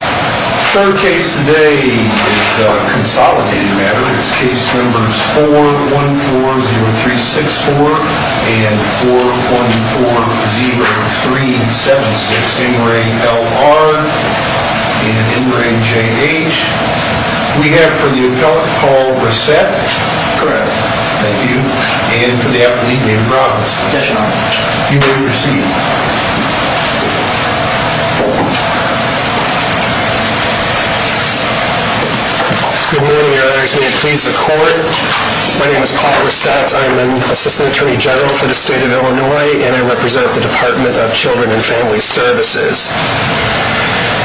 and N.J.H. We have for the appellant, Paul Rossette. Correct. Thank you. And for the appellant, David Robinson. Yes, Your Honor. You may proceed. Good morning, Your Honors. May it please the Court. My name is Paul Rossette. I am an Assistant Attorney General for the State of Illinois, and I represent the Department of Children and Family Services.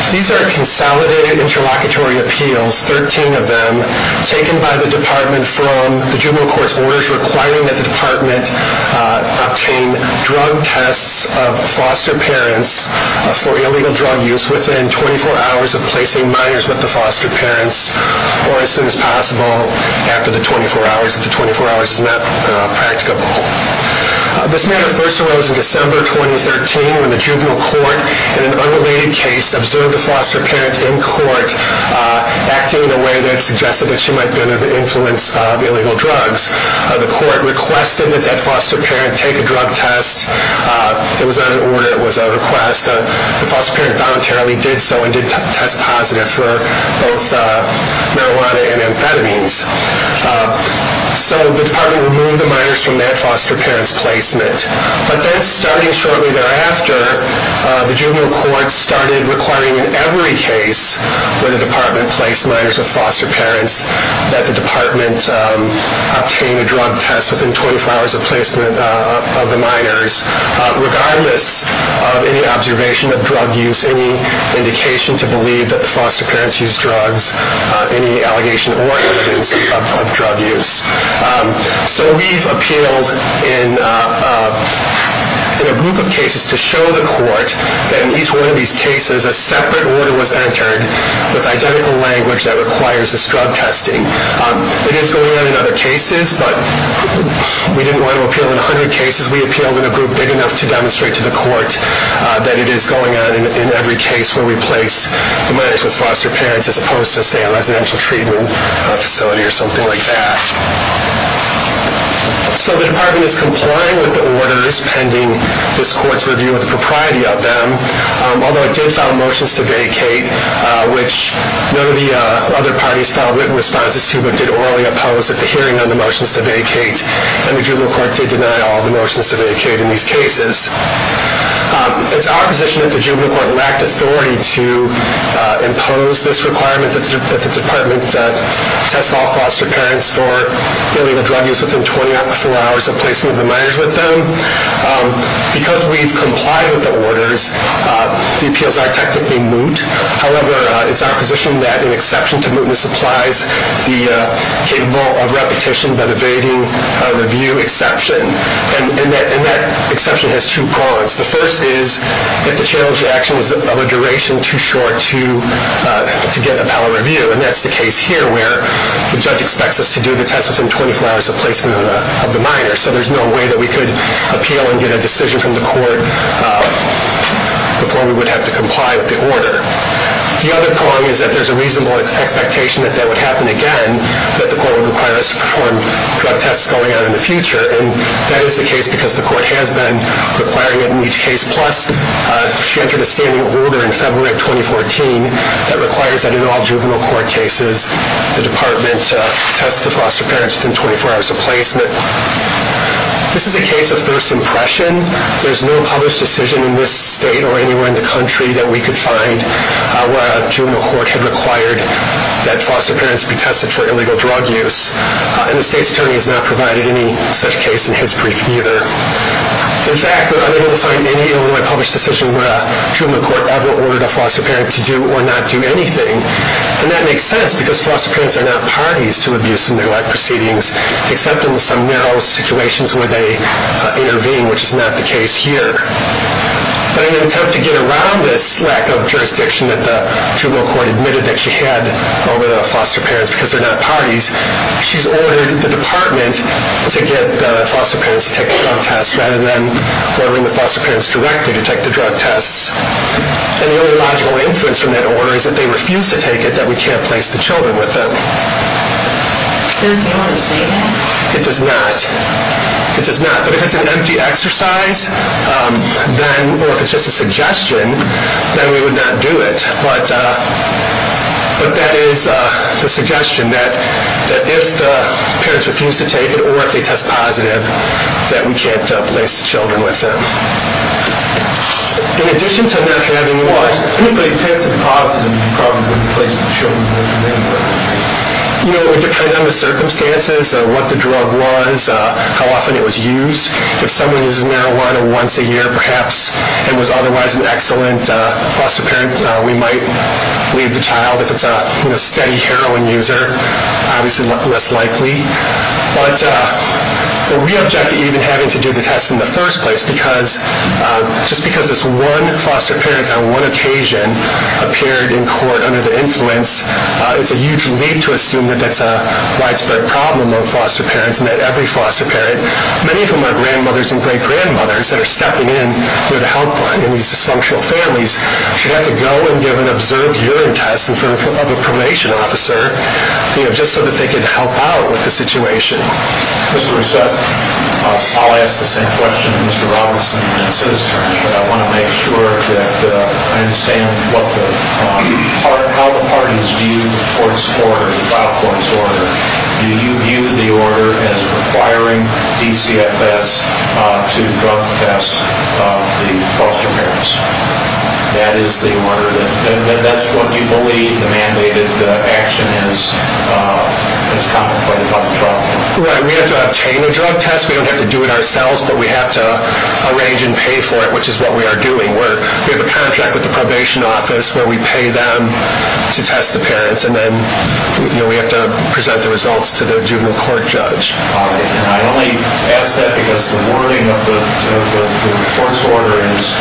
These are consolidated interlocutory appeals, 13 of them, taken by the Department from the juvenile court's orders requiring that the Department obtain drug tests of foster parents for illegal drug use within 24 hours of placing minors with the foster parents, or as soon as possible after the 24 hours if the 24 hours is not practicable. This matter first arose in December 2013 when the juvenile court, in an unrelated case, observed a foster parent in court acting in a way that suggested that she might be under the influence of illegal drugs. The court requested that that foster parent take a drug test. It was not an order. It was a request. The foster parent voluntarily did so and did test positive for both marijuana and amphetamines. So the Department removed the minors from that foster parent's placement. But then, starting shortly thereafter, the juvenile court started requiring in every case where the Department placed minors with foster parents that the Department obtain a drug test within 24 hours of placement of the minors, regardless of any observation of drug use, any indication to believe that the foster parents use drugs, any allegation or evidence of drug use. So we've appealed in a group of cases to show the court that in each one of these cases a separate order was entered with identical language that requires this drug testing. It is going on in other cases, but we didn't want to appeal in 100 cases. We appealed in a group big enough to demonstrate to the court that it is going on in every case where we place minors with foster parents as opposed to, say, a residential treatment facility or something like that. So the Department is complying with the orders pending this court's review of the propriety of them, although it did file motions to vacate, which none of the other parties filed written responses to but did orally oppose at the hearing on the motions to vacate, and the juvenile court did deny all the motions to vacate in these cases. It's our position that the juvenile court lacked authority to impose this requirement that the Department test all foster parents for illegal drug use within 24 hours of placement of the minors with them. Because we've complied with the orders, the appeals are technically moot. However, it's our position that an exception to mootness applies, capable of repetition but evading a review exception, and that exception has two prongs. The first is if the challenge to action was of a duration too short to get a power review, and that's the case here where the judge expects us to do the test within 24 hours of placement of the minors, so there's no way that we could appeal and get a decision from the court before we would have to comply with the order. The other prong is that there's a reasonable expectation that that would happen again, that the court would require us to perform drug tests going on in the future, and that is the case because the court has been requiring it in each case, plus she entered a standing order in February of 2014 that requires that in all juvenile court cases, the Department test the foster parents within 24 hours of placement. This is a case of first impression. There's no published decision in this state or anywhere in the country that we could find where a juvenile court had required that foster parents be tested for illegal drug use, and the state's attorney has not provided any such case in his brief either. In fact, we're unable to find any Illinois published decision where a juvenile court ever ordered a foster parent to do or not do anything, and that makes sense because foster parents are not parties to abuse and neglect proceedings, except in some narrow situations where they intervene, which is not the case here. But in an attempt to get around this lack of jurisdiction that the juvenile court admitted that she had over the foster parents because they're not parties, she's ordered the Department to get the foster parents to take the drug tests rather than ordering the foster parents directly to take the drug tests, and the only logical inference from that order is that they refuse to take it, that we can't place the children with them. Does the order say that? It does not. It does not. But if it's an empty exercise, or if it's just a suggestion, then we would not do it. But that is the suggestion, that if the parents refuse to take it or if they test positive, that we can't place the children with them. In addition to not having what? If they tested positive, you probably wouldn't place the children with them. You know, it would depend on the circumstances, what the drug was, how often it was used. If someone uses marijuana once a year, perhaps, and was otherwise an excellent foster parent, we might leave the child. If it's a steady heroin user, obviously less likely. But we object to even having to do the tests in the first place Just because this one foster parent on one occasion appeared in court under the influence, it's a huge leap to assume that that's a widespread problem among foster parents, and that every foster parent, many of whom are grandmothers and great-grandmothers, that are stepping in to help in these dysfunctional families, should have to go and give an observed urine test of a probation officer, just so that they could help out with the situation. Mr. Rousset, I'll ask the same question to Mr. Robinson, and it's his turn, but I want to make sure that I understand how the parties view the trial court's order. Do you view the order as requiring DCFS to drug test the foster parents? That is the order, and that's what you believe the mandated action is, as contemplated by the trial court? Right, we have to obtain a drug test, we don't have to do it ourselves, but we have to arrange and pay for it, which is what we are doing. We have a contract with the probation office where we pay them to test the parents, and then we have to present the results to the juvenile court judge. And I only ask that because the wording of the court's order is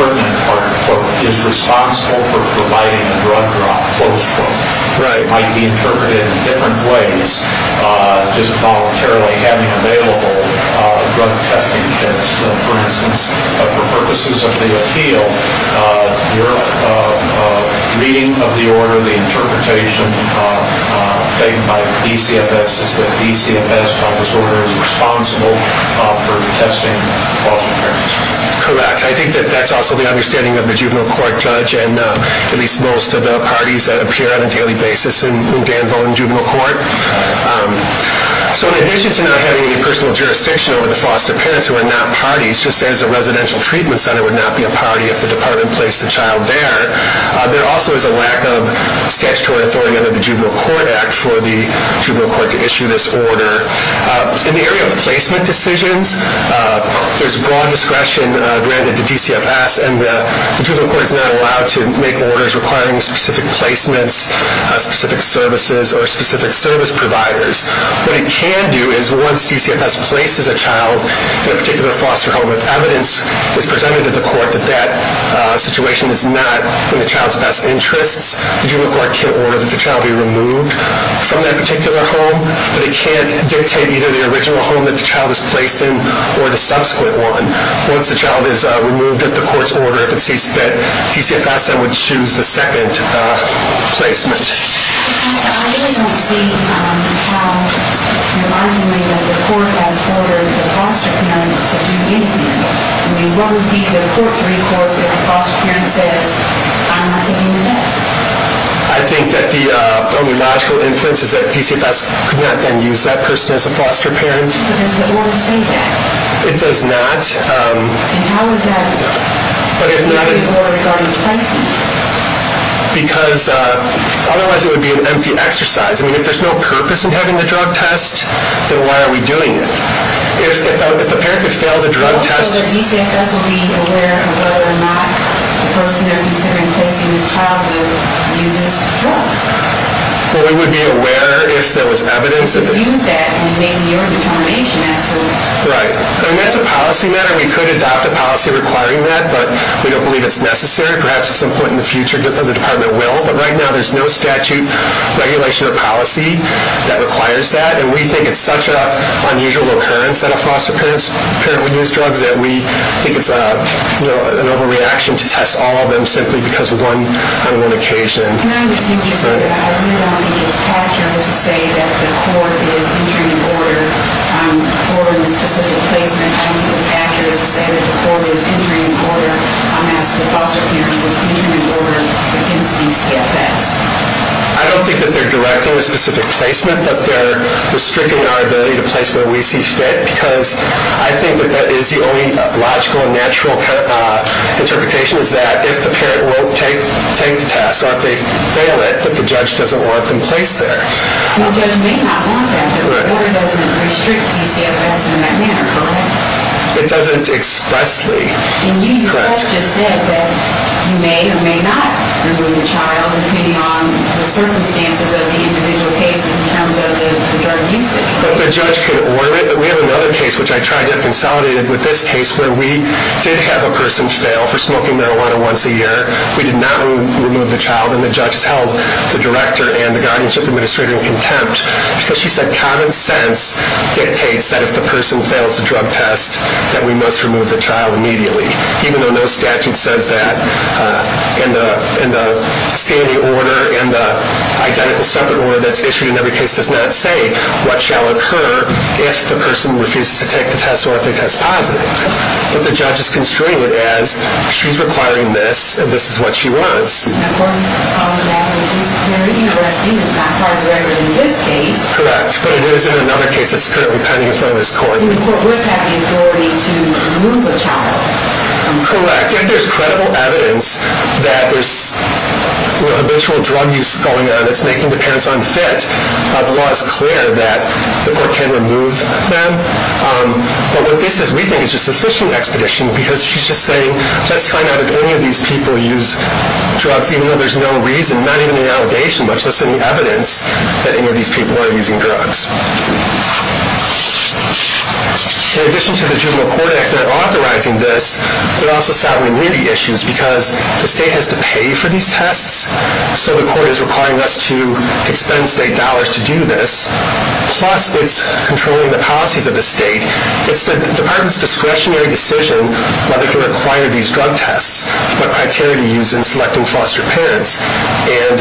pertinent, and the court is responsible for providing the drug drop. It might be interpreted in different ways, just voluntarily having available drug testing kits. For instance, for purposes of the appeal, your reading of the order, the interpretation made by DCFS is that DCFS, by this order, is responsible for testing the foster parents. Correct. I think that's also the understanding of the juvenile court judge, and at least most of the parties that appear on a daily basis in Danvon Juvenile Court. So in addition to not having any personal jurisdiction over the foster parents who are not parties, just as a residential treatment center would not be a party if the department placed a child there, there also is a lack of statutory authority under the Juvenile Court Act for the juvenile court to issue this order. In the area of placement decisions, there's broad discretion granted to DCFS, and the juvenile court is not allowed to make orders requiring specific placements, specific services, or specific service providers. What it can do is once DCFS places a child in a particular foster home with evidence, it's presented to the court that that situation is not in the child's best interests. The juvenile court can't order that the child be removed from that particular home, but it can't dictate either the original home that the child is placed in or the subsequent one. Once the child is removed at the court's order, if it sees fit, DCFS then would choose the second placement. I really don't see how remarkably that the court has ordered the foster parents to do anything. I mean, what would be the court's recourse if a foster parent says, I'm not taking the next? I think that the only logical inference is that DCFS could not then use that person as a foster parent. But does the order say that? It does not. And how is that related to the order regarding placement? Because otherwise it would be an empty exercise. I mean, if there's no purpose in having the drug test, then why are we doing it? Well, so that DCFS would be aware of whether or not the person they're considering placing this child with uses drugs. Well, they would be aware if there was evidence. If they used that, we'd make the earlier determination as to... Right. I mean, that's a policy matter. We could adopt a policy requiring that, but we don't believe it's necessary. Perhaps at some point in the future the department will, but right now there's no statute, regulation, or policy that requires that. And we think it's such an unusual occurrence that a foster parent would use drugs that we think it's an overreaction to test all of them simply because of one occasion. And I'm just curious. I really don't think it's accurate to say that the court is entering an order for a specific placement. I think it's accurate to say that the court is entering an order as the foster parent is entering an order against DCFS. I don't think that they're directing a specific placement, but they're restricting our ability to place where we see fit because I think that that is the only logical and natural interpretation is that if the parent won't take the test or if they fail it, that the judge doesn't want them placed there. The judge may not want that, but the order doesn't restrict DCFS in that manner, correct? It doesn't expressly. And you yourself just said that you may or may not remove the child depending on the circumstances of the individual case in terms of the drug usage. But the judge can order it. But we have another case which I tried to consolidate with this case where we did have a person fail for smoking marijuana once a year. We did not remove the child, and the judge has held the director and the guardianship administrator in contempt because she said common sense dictates that if the person fails the drug test, that we must remove the child immediately, even though no statute says that in the standing order and the identical separate order that's issued in every case does not say what shall occur if the person refuses to take the test or if they test positive. But the judge is constrained as she's requiring this, and this is what she wants. And of course, all of that, which is very interesting, is not part of the record in this case. Correct. But it is in another case that's currently pending in front of this court. The court would have the authority to remove the child. Correct. If there's credible evidence that there's habitual drug use going on that's making the parents unfit, the law is clear that the court can remove them. But what this is, we think, is just sufficient expedition because she's just saying let's find out if any of these people use drugs, even though there's no reason, not even an allegation, much less any evidence that any of these people are using drugs. In addition to the juvenile court act not authorizing this, there are also some immunity issues because the state has to pay for these tests, so the court is requiring us to expend state dollars to do this. Plus, it's controlling the policies of the state. It's the department's discretionary decision whether to require these drug tests, what criteria to use in selecting foster parents. And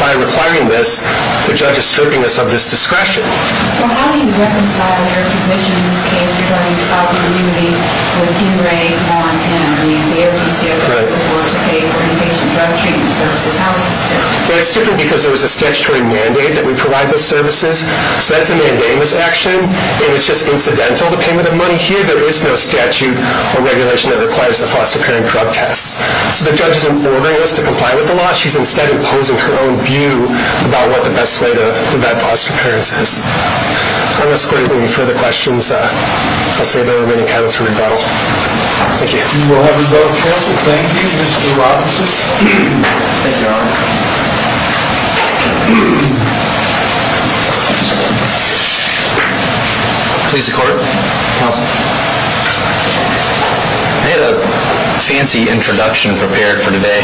by requiring this, the judge is stripping us of this discretion. Well, how do you reconcile your position in this case regarding sovereign immunity with Ingray, Vaughn's, Henry, and the OPCS that would work to pay for inpatient drug treatment services? How is this different? Well, it's different because there was a statutory mandate that we provide those services, so that's a mandamus action, and it's just incidental. There is no statute or regulation that requires the foster parent drug tests. So the judge isn't ordering us to comply with the law. She's instead imposing her own view about what the best way to vet foster parents is. Unless court has any further questions, I'll save the remaining time to rebuttal. Thank you. We will have rebuttal, counsel. Thank you, Your Honor. Thank you. Please, the court. Counsel. I had a fancy introduction prepared for today,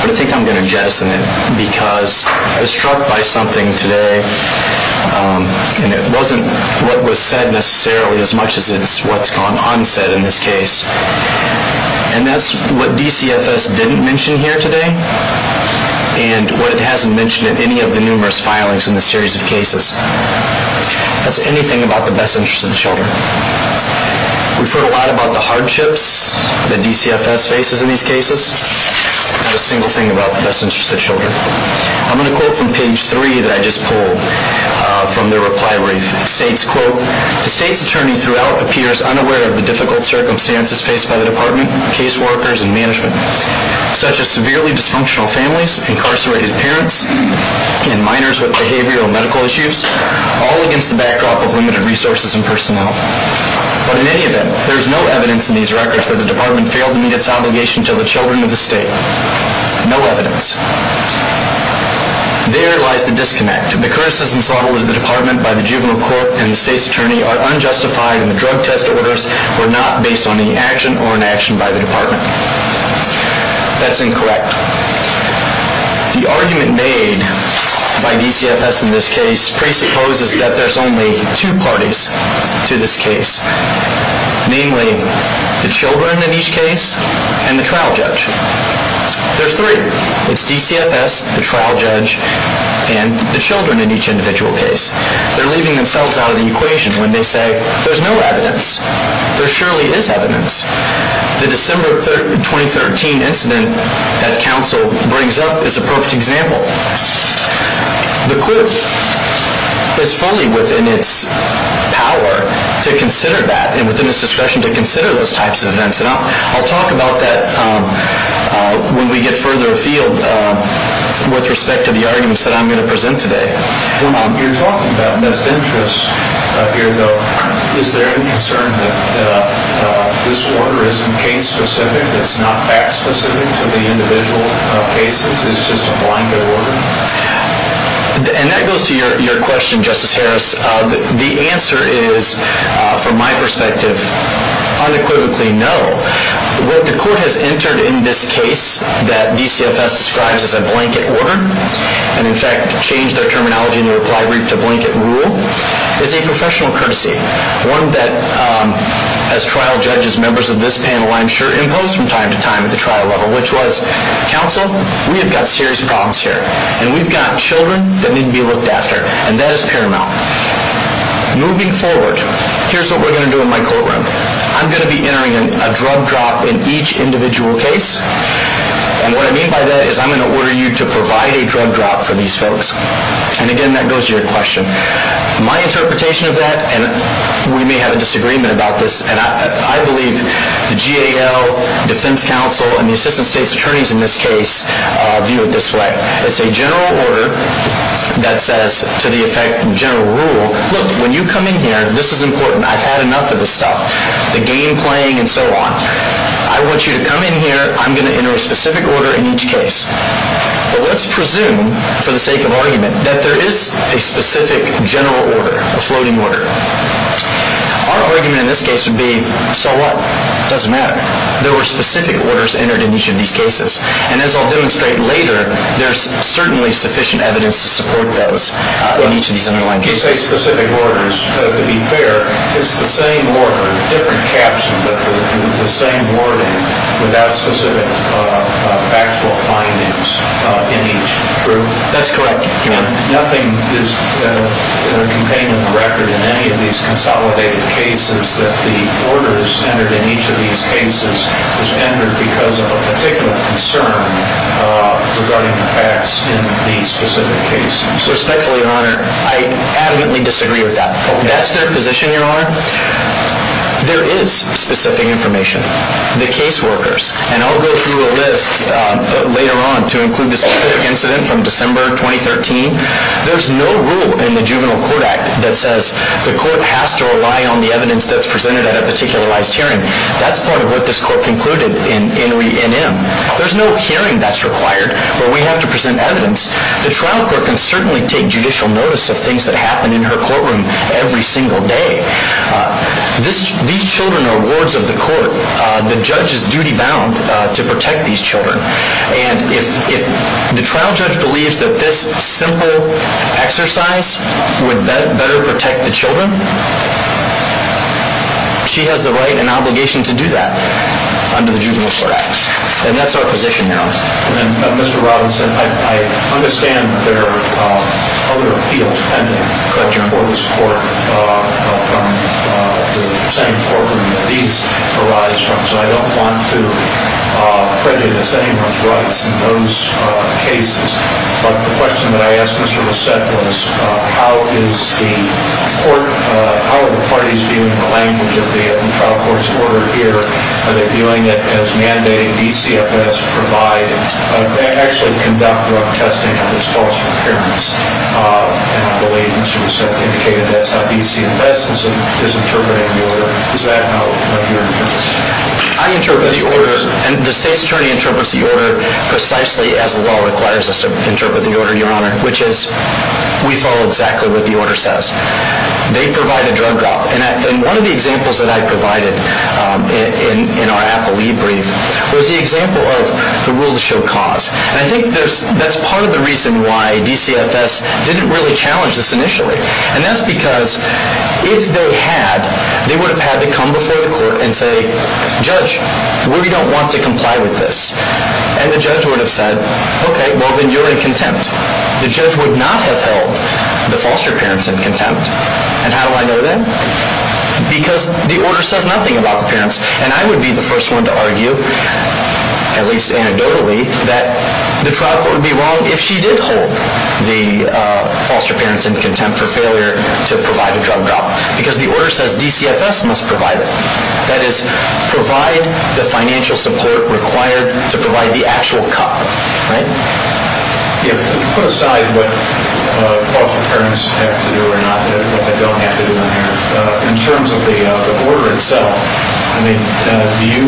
but I think I'm going to jettison it because I was struck by something today, and it wasn't what was said necessarily as much as it's what's gone unsaid in this case. And that's what DCFS didn't mention here today and what it hasn't mentioned in any of the numerous filings in this series of cases. That's anything about the best interest of the children. We've heard a lot about the hardships that DCFS faces in these cases. Not a single thing about the best interest of the children. I'm going to quote from page 3 that I just pulled from their reply brief. It states, quote, The State's Attorney throughout appears unaware of the difficult circumstances faced by the Department, case workers, and management, such as severely dysfunctional families, incarcerated parents, and minors with behavioral and medical issues, all against the backdrop of limited resources and personnel. But in any event, there is no evidence in these records that the Department failed to meet its obligation to the children of the State. No evidence. There lies the disconnect. The criticisms leveled at the Department by the Juvenile Court and the State's Attorney are unjustified and the drug test orders were not based on any action or inaction by the Department. That's incorrect. The argument made by DCFS in this case presupposes that there's only two parties to this case, namely the children in each case and the trial judge. There's three. It's DCFS, the trial judge, and the children in each individual case. They're leaving themselves out of the equation when they say there's no evidence. There surely is evidence. The December 2013 incident that counsel brings up is a perfect example. The court is fully within its power to consider that and within its discretion to consider those types of events. I'll talk about that when we get further afield with respect to the arguments that I'm going to present today. You're talking about missed interests here, though. Is there any concern that this order isn't case-specific, that it's not fact-specific to the individual cases? It's just a blanket order? That goes to your question, Justice Harris. The answer is, from my perspective, unequivocally no. What the court has entered in this case that DCFS describes as a blanket order and, in fact, changed their terminology in the reply brief to blanket rule, is a professional courtesy, one that, as trial judges, members of this panel, I'm sure impose from time to time at the trial level, which was, counsel, we have got serious problems here, and we've got children that need to be looked after, and that is paramount. Moving forward, here's what we're going to do in my courtroom. I'm going to be entering a drug drop in each individual case, and what I mean by that is I'm going to order you to provide a drug drop for these folks. And, again, that goes to your question. My interpretation of that, and we may have a disagreement about this, and I believe the GAL, defense counsel, and the assistant state's attorneys in this case view it this way. It's a general order that says, to the effect of general rule, look, when you come in here, this is important. I've had enough of this stuff, the game playing and so on. I want you to come in here. I'm going to enter a specific order in each case. But let's presume, for the sake of argument, that there is a specific general order, a floating order. Our argument in this case would be, so what? It doesn't matter. There were specific orders entered in each of these cases. And as I'll demonstrate later, there's certainly sufficient evidence to support those in each of these underlying cases. Well, when you say specific orders, to be fair, it's the same order, different caption, but the same wording without specific factual findings in each group. That's correct. Nothing is contained in the record in any of these consolidated cases that the orders entered in each of these cases because of a particular concern regarding the facts in these specific cases. Respectfully, Your Honor, I adamantly disagree with that. That's their position, Your Honor? There is specific information. The caseworkers, and I'll go through a list later on to include this specific incident from December 2013. There's no rule in the Juvenile Court Act that says the court has to rely on the evidence that's presented at a particularized hearing. That's part of what this court concluded in re-enactment. There's no hearing that's required where we have to present evidence. The trial court can certainly take judicial notice of things that happen in her courtroom every single day. These children are wards of the court. The judge is duty-bound to protect these children. And if the trial judge believes that this simple exercise would better protect the children, she has the right and obligation to do that under the Juvenile Court Act. And that's our position, Your Honor. Mr. Robinson, I understand there are other appeals pending, correct, Your Honor, for this court from the same courtroom that these arise from, so I don't want to prejudice anyone's rights in those cases. But the question that I asked Mr. Rousset was, how are the parties viewing the language of the trial court's order here? Are they viewing it as mandating DCFS provide and actually conduct drug testing of this false appearance? And I believe Mr. Rousset indicated that's how DCFS is interpreting the order. Is that how you're interpreting it? I interpret the order, and the State's Attorney interprets the order precisely as the law requires us to interpret the order, Your Honor, which is we follow exactly what the order says. They provide a drug drop. And one of the examples that I provided in our Apple eBrief was the example of the will to show cause. And I think that's part of the reason why DCFS didn't really challenge this initially. And that's because if they had, they would have had to come before the court and say, Judge, we don't want to comply with this. And the judge would have said, okay, well, then you're in contempt. The judge would not have held the foster parents in contempt. And how do I know that? Because the order says nothing about the parents, and I would be the first one to argue, at least anecdotally, that the trial court would be wrong if she did hold the foster parents in contempt for failure to provide a drug drop, because the order says DCFS must provide it. That is, provide the financial support required to provide the actual cut, right? Yeah, put aside what foster parents have to do or not, what they don't have to do in here, in terms of the order itself, I mean, do you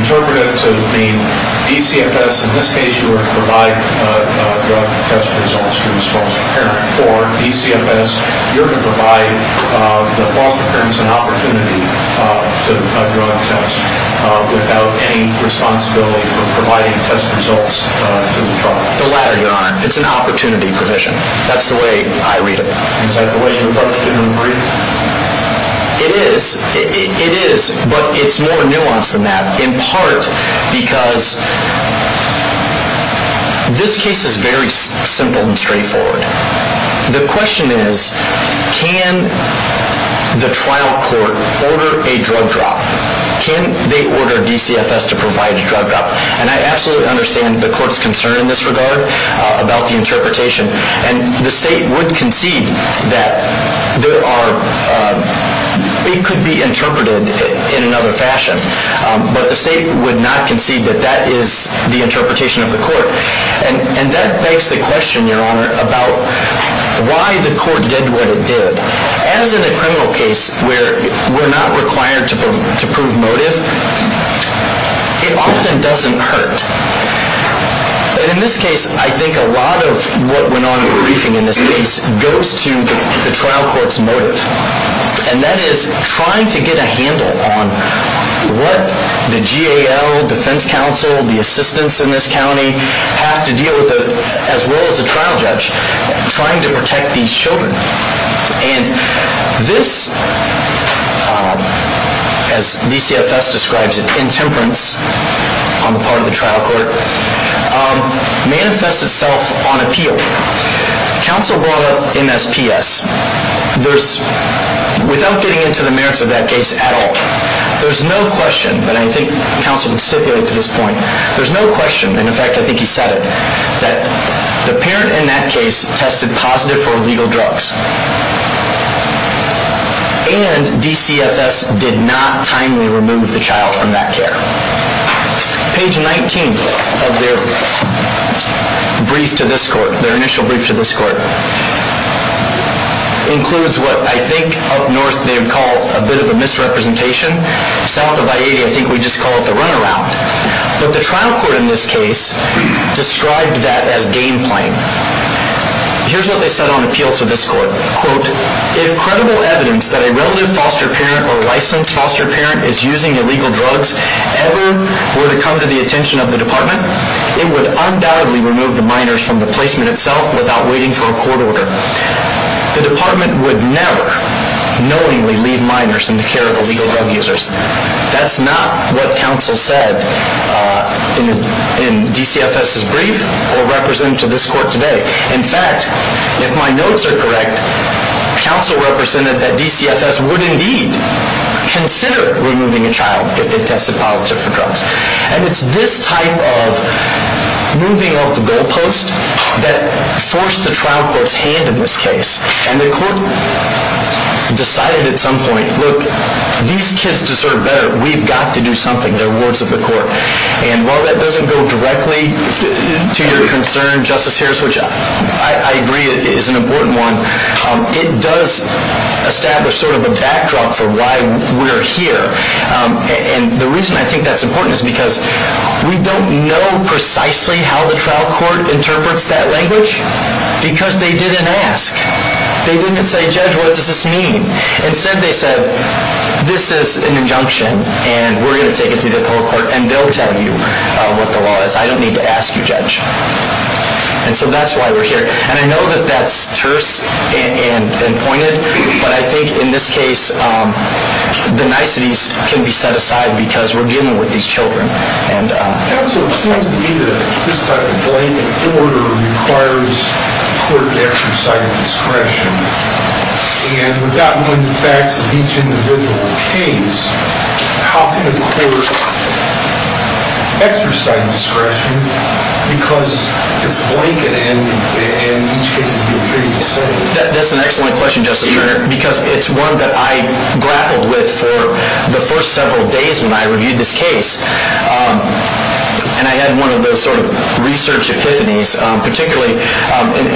interpret it to mean DCFS, in this case, you were to provide drug test results to this foster parent, or DCFS, you're going to provide the foster parents an opportunity to do a drug test without any responsibility for providing test results to the trial? The latter, Your Honor. It's an opportunity provision. That's the way I read it. Is that the way you approach it in the brief? It is, but it's more nuanced than that, in part because this case is very simple and straightforward. The question is, can the trial court order a drug drop? Can they order DCFS to provide a drug drop? And I absolutely understand the court's concern in this regard about the interpretation, and the state would concede that it could be interpreted in another fashion, but the state would not concede that that is the interpretation of the court. And that begs the question, Your Honor, about why the court did what it did. As in a criminal case where we're not required to prove motive, it often doesn't hurt. In this case, I think a lot of what went on in the briefing in this case goes to the trial court's motive, and that is trying to get a handle on what the GAL, defense counsel, the assistants in this county have to deal with, as well as the trial judge, trying to protect these children. And this, as DCFS describes it, intemperance on the part of the trial court, manifests itself on appeal. Counsel brought up MSPS. Without getting into the merits of that case at all, there's no question, but I think counsel can stipulate to this point, there's no question, and in fact I think he said it, that the parent in that case tested positive for illegal drugs, and DCFS did not timely remove the child from that care. Page 19 of their brief to this court, their initial brief to this court, includes what I think up north they would call a bit of a misrepresentation. South of I-80, I think we just call it the runaround. But the trial court in this case described that as game playing. Here's what they said on appeal to this court. Quote, if credible evidence that a relative foster parent or licensed foster parent is using illegal drugs ever were to come to the attention of the department, it would undoubtedly remove the minors from the placement itself without waiting for a court order. The department would never knowingly leave minors in the care of illegal drug users. That's not what counsel said in DCFS's brief or represented to this court today. In fact, if my notes are correct, counsel represented that DCFS would indeed consider removing a child if they tested positive for drugs. And it's this type of moving off the goal post that forced the trial court's hand in this case, and the court decided at some point, look, these kids deserve better. We've got to do something. They're words of the court. And while that doesn't go directly to your concern, Justice Harris, which I agree is an important one, it does establish sort of a backdrop for why we're here. And the reason I think that's important is because we don't know precisely how the trial court interprets that language because they didn't ask. They didn't say, Judge, what does this mean? Instead, they said, this is an injunction, and we're going to take it to the court, and they'll tell you what the law is. I don't need to ask you, Judge. And so that's why we're here. And I know that that's terse and pointed, but I think in this case the niceties can be set aside because we're dealing with these children. Counsel, it seems to me that this type of blanket order requires a court to exercise discretion. And without knowing the facts of each individual case, how can a court exercise discretion because it's blanket and each case is being treated the same? That's an excellent question, Justice Carter, because it's one that I grappled with for the first several days when I reviewed this case. And I had one of those sort of research epiphanies, particularly,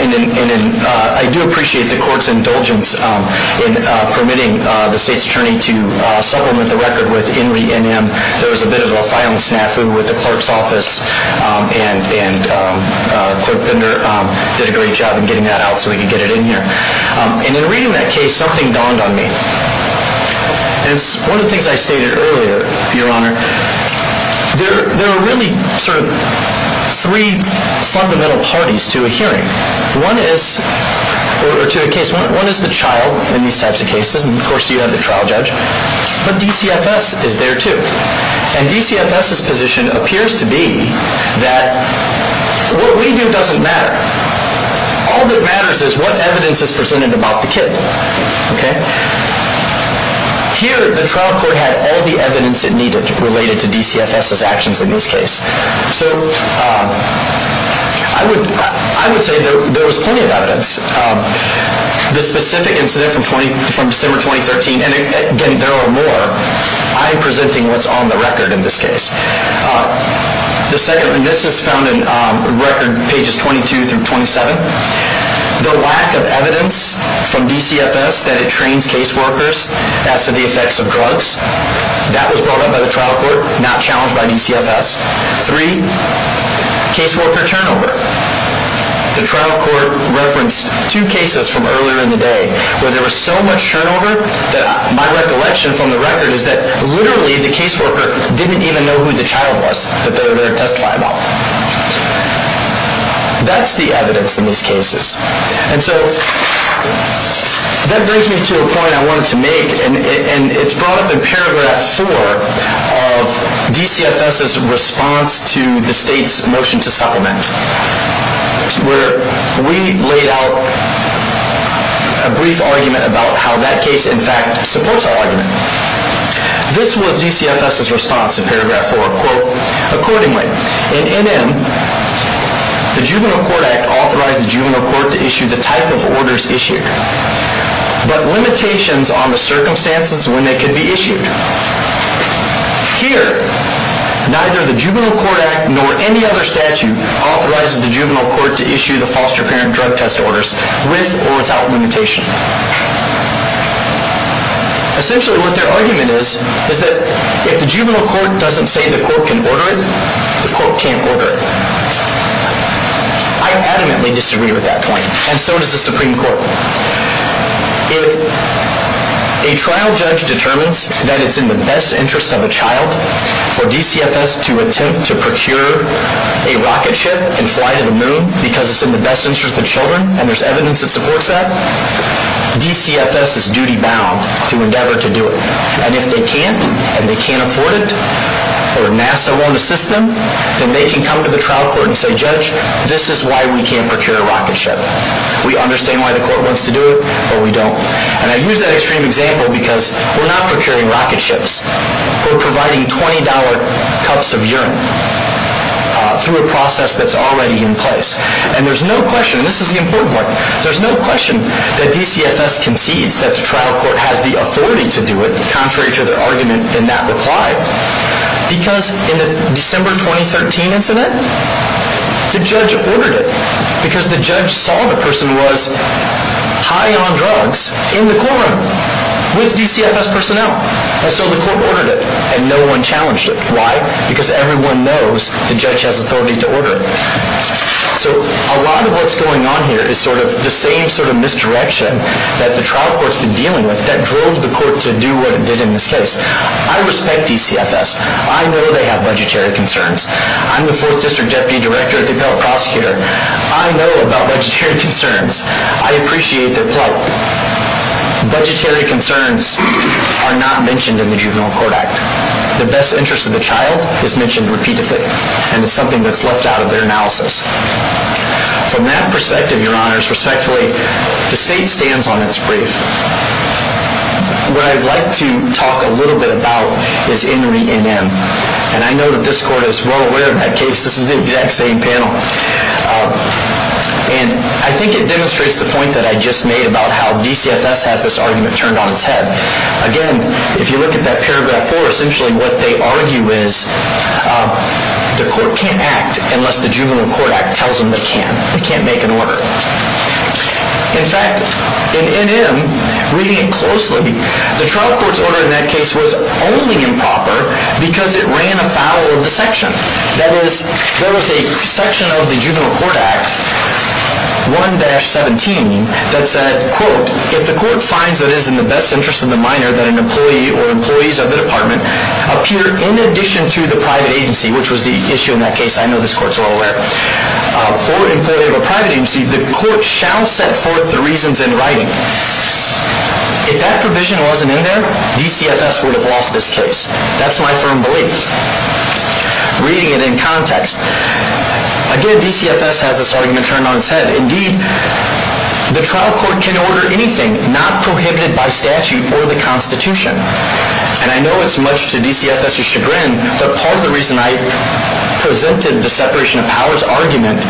and I do appreciate the court's indulgence in permitting the state's attorney to supplement the record with In Re, NM. There was a bit of a filing snafu with the clerk's office, and Clerk Bender did a great job in getting that out so we could get it in here. And in reading that case, something dawned on me. And it's one of the things I stated earlier, Your Honor. There are really sort of three fundamental parties to a hearing, or to a case. One is the child in these types of cases, and of course you have the trial judge. But DCFS is there, too. And DCFS's position appears to be that what we do doesn't matter. All that matters is what evidence is presented about the kid, okay? Here, the trial court had all the evidence it needed related to DCFS's actions in this case. So I would say there was plenty of evidence. The specific incident from December 2013, and again, there are more. I am presenting what's on the record in this case. This is found in record pages 22 through 27. The lack of evidence from DCFS that it trains caseworkers as to the effects of drugs, that was brought up by the trial court, not challenged by DCFS. Three, caseworker turnover. The trial court referenced two cases from earlier in the day where there was so much turnover that my recollection from the record is that literally the caseworker didn't even know who the child was that they were going to testify about. That's the evidence in these cases. And so that brings me to a point I wanted to make, and it's brought up in paragraph 4 of DCFS's response to the state's motion to supplement, where we laid out a brief argument about how that case, in fact, supports our argument. This was DCFS's response in paragraph 4. Quote, accordingly, in NM, the Juvenile Court Act authorized the juvenile court to issue the type of orders issued, but limitations on the circumstances when they could be issued. Here, neither the Juvenile Court Act nor any other statute authorizes the juvenile court to issue the foster parent drug test orders with or without limitation. Essentially what their argument is, is that if the juvenile court doesn't say the court can order it, the court can't order it. I adamantly disagree with that point, and so does the Supreme Court. If a trial judge determines that it's in the best interest of a child for DCFS to attempt to procure a rocket ship and fly to the moon because it's in the best interest of the children, and there's evidence that supports that, DCFS is duty-bound to endeavor to do it. And if they can't, and they can't afford it, or NASA won't assist them, then they can come to the trial court and say, Judge, this is why we can't procure a rocket ship. We understand why the court wants to do it, but we don't. And I use that extreme example because we're not procuring rocket ships. We're providing $20 cups of urine through a process that's already in place. And there's no question, and this is the important part, there's no question that DCFS concedes that the trial court has the authority to do it, the judge ordered it because the judge saw the person was high on drugs in the courtroom with DCFS personnel. And so the court ordered it, and no one challenged it. Why? Because everyone knows the judge has authority to order it. So a lot of what's going on here is sort of the same sort of misdirection that the trial court's been dealing with that drove the court to do what it did in this case. I respect DCFS. I know they have budgetary concerns. I'm the 4th District Deputy Director at the Appellate Prosecutor. I know about budgetary concerns. I appreciate their plight. Budgetary concerns are not mentioned in the Juvenile Court Act. The best interest of the child is mentioned repeatedly, and it's something that's left out of their analysis. From that perspective, Your Honors, respectfully, the state stands on its brief. What I'd like to talk a little bit about is INRI-NM. And I know that this court is well aware of that case. This is the exact same panel. And I think it demonstrates the point that I just made about how DCFS has this argument turned on its head. Again, if you look at that paragraph 4, essentially what they argue is the court can't act unless the Juvenile Court Act tells them they can. They can't make an order. In fact, in INRI-NM, reading it closely, the trial court's order in that case was only improper because it ran afoul of the section. That is, there was a section of the Juvenile Court Act, 1-17, that said, If the court finds that it is in the best interest of the minor that an employee or employees of the department appear in addition to the private agency, which was the issue in that case, I know this court is well aware of, or employee of a private agency, the court shall set forth the reasons in writing. If that provision wasn't in there, DCFS would have lost this case. That's my firm belief, reading it in context. Again, DCFS has this argument turned on its head. Indeed, the trial court can order anything not prohibited by statute or the Constitution. And I know it's much to DCFS's chagrin, but part of the reason I presented the separation of powers argument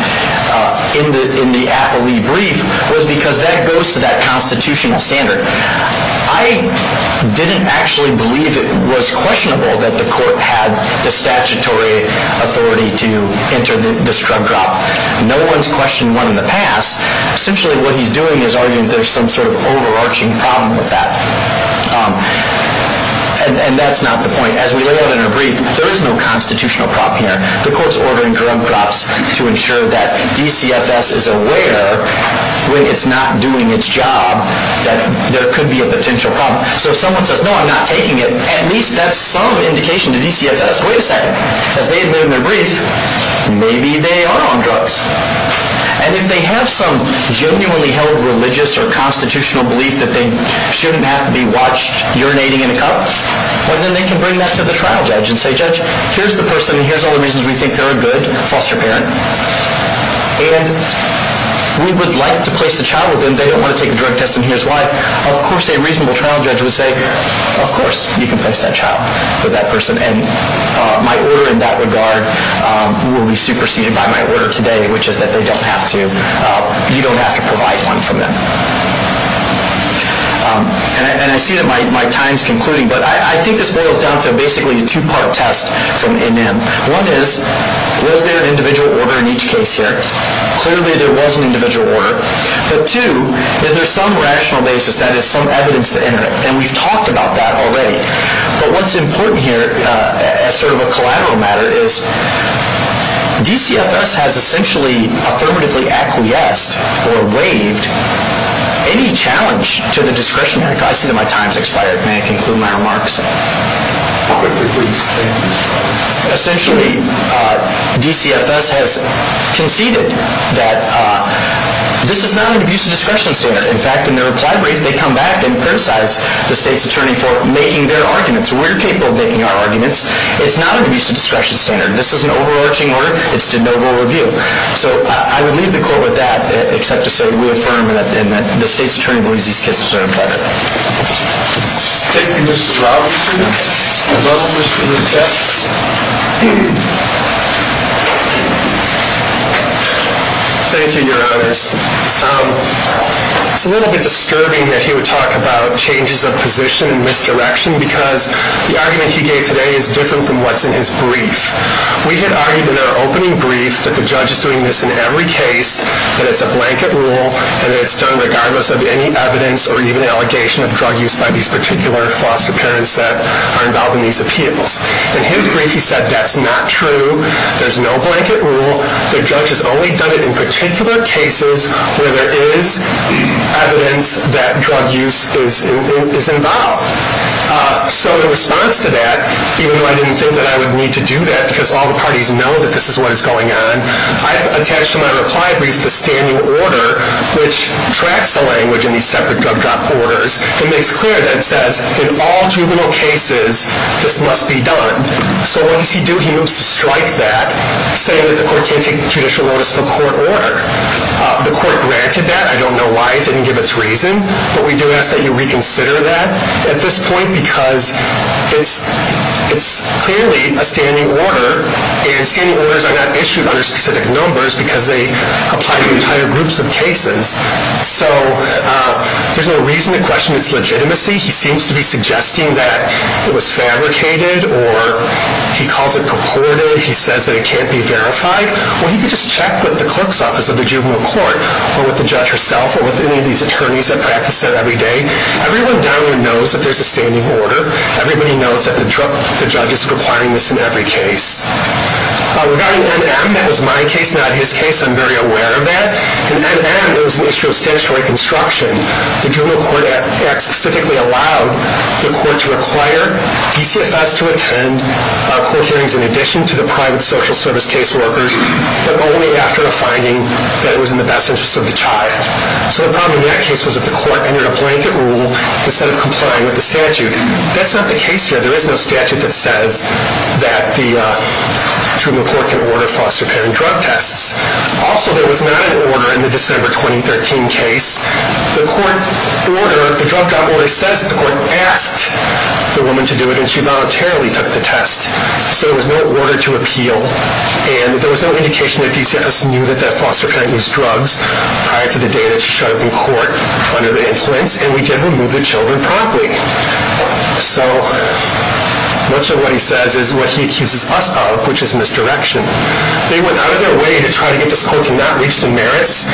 in the Appley brief was because that goes to that constitutional standard. I didn't actually believe it was questionable that the court had the statutory authority to enter this drug trial. No one's questioned one in the past. Essentially, what he's doing is arguing that there's some sort of overarching problem with that. And that's not the point. As we lay out in our brief, there is no constitutional problem here. The court's ordering drug drops to ensure that DCFS is aware, when it's not doing its job, that there could be a potential problem. So if someone says, no, I'm not taking it, at least that's some indication to DCFS. Wait a second. As they admit in their brief, maybe they are on drugs. And if they have some genuinely held religious or constitutional belief that they shouldn't have to be watched urinating in a cup, well, then they can bring that to the trial judge and say, judge, here's the person, and here's all the reasons we think they're a good foster parent. And we would like to place the child with them. They don't want to take the drug test, and here's why. Of course, a reasonable trial judge would say, of course, you can place that child with that person. And my order in that regard will be superseded by my order today, which is that you don't have to provide one from them. And I see that my time is concluding, but I think this boils down to basically a two-part test from NN. One is, was there an individual order in each case here? Clearly, there was an individual order. But two, is there some rational basis, that is, some evidence to enter it? And we've talked about that already. But what's important here, as sort of a collateral matter, is DCFS has essentially affirmatively acquiesced or waived any challenge to the discretionary clause. I see that my time has expired. May I conclude my remarks? MR. LIEBERMANN Essentially, DCFS has conceded that this is not an abuse of discretion standard. In fact, in their reply brief, they come back and criticize the state's attorney for making their arguments. We're capable of making our arguments. It's not an abuse of discretion standard. This is an overarching order. It's de novo review. So I would leave the court with that, except to say we affirm that the state's attorney believes these kids deserve better. MR. LIEBERMANN Thank you, Your Honors. It's a little bit disturbing that he would talk about changes of position and misdirection, because the argument he gave today is different from what's in his brief. We had argued in our opening brief that the judge is doing this in every case, that it's a blanket rule, and it's done regardless of any evidence or even allegation of drug use by these particular foster parents that are involved in these appeals. In his brief, he said that's not true. There's no blanket rule. The judge has only done it in particular cases where there is evidence that drug use is involved. So in response to that, even though I didn't think that I would need to do that because all the parties know that this is what is going on, I attached to my reply brief the standing order, which tracks the language in these separate drug drop orders and makes clear that it says in all juvenile cases this must be done. So what does he do? He moves to strike that, saying that the court can't take judicial notice of a court order. The court granted that. I don't know why. It didn't give its reason. But we do ask that you reconsider that at this point because it's clearly a standing order, and standing orders are not issued under specific numbers because they apply to entire groups of cases. So there's no reason to question its legitimacy. He seems to be suggesting that it was fabricated, or he calls it purported. He says that it can't be verified. Well, he could just check with the clerk's office of the juvenile court or with the judge herself or with any of these attorneys that practice that every day. Everyone down there knows that there's a standing order. Everybody knows that the judge is requiring this in every case. Regarding NM, that was my case, not his case. I'm very aware of that. In NM, there was an issue of statutory construction. The juvenile court act specifically allowed the court to require DCFS to attend court hearings in addition to the private social service case workers, but only after a finding that was in the best interest of the child. So the problem in that case was that the court entered a blanket rule instead of complying with the statute. That's not the case here. There is no statute that says that the juvenile court can order foster parent drug tests. Also, there was not an order in the December 2013 case. The court order, the drug drug order says that the court asked the woman to do it, and she voluntarily took the test. So there was no order to appeal, and there was no indication that DCFS knew that that foster parent used drugs prior to the day that she showed up in court under the influence, and we did remove the children promptly. So much of what he says is what he accuses us of, which is misdirection. They went out of their way to try to get this court to not reach the merits.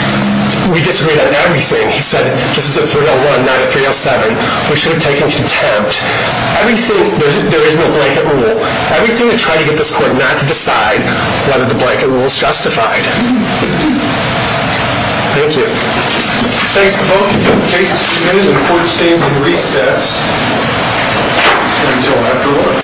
We disagreed on everything. He said, this is a 301, not a 307. We should have taken contempt. Everything, there is no blanket rule. Everything to try to get this court not to decide whether the blanket rule is justified. Thank you. Thanks to both of you. The case is submitted, and the court stands in recess until after lunch.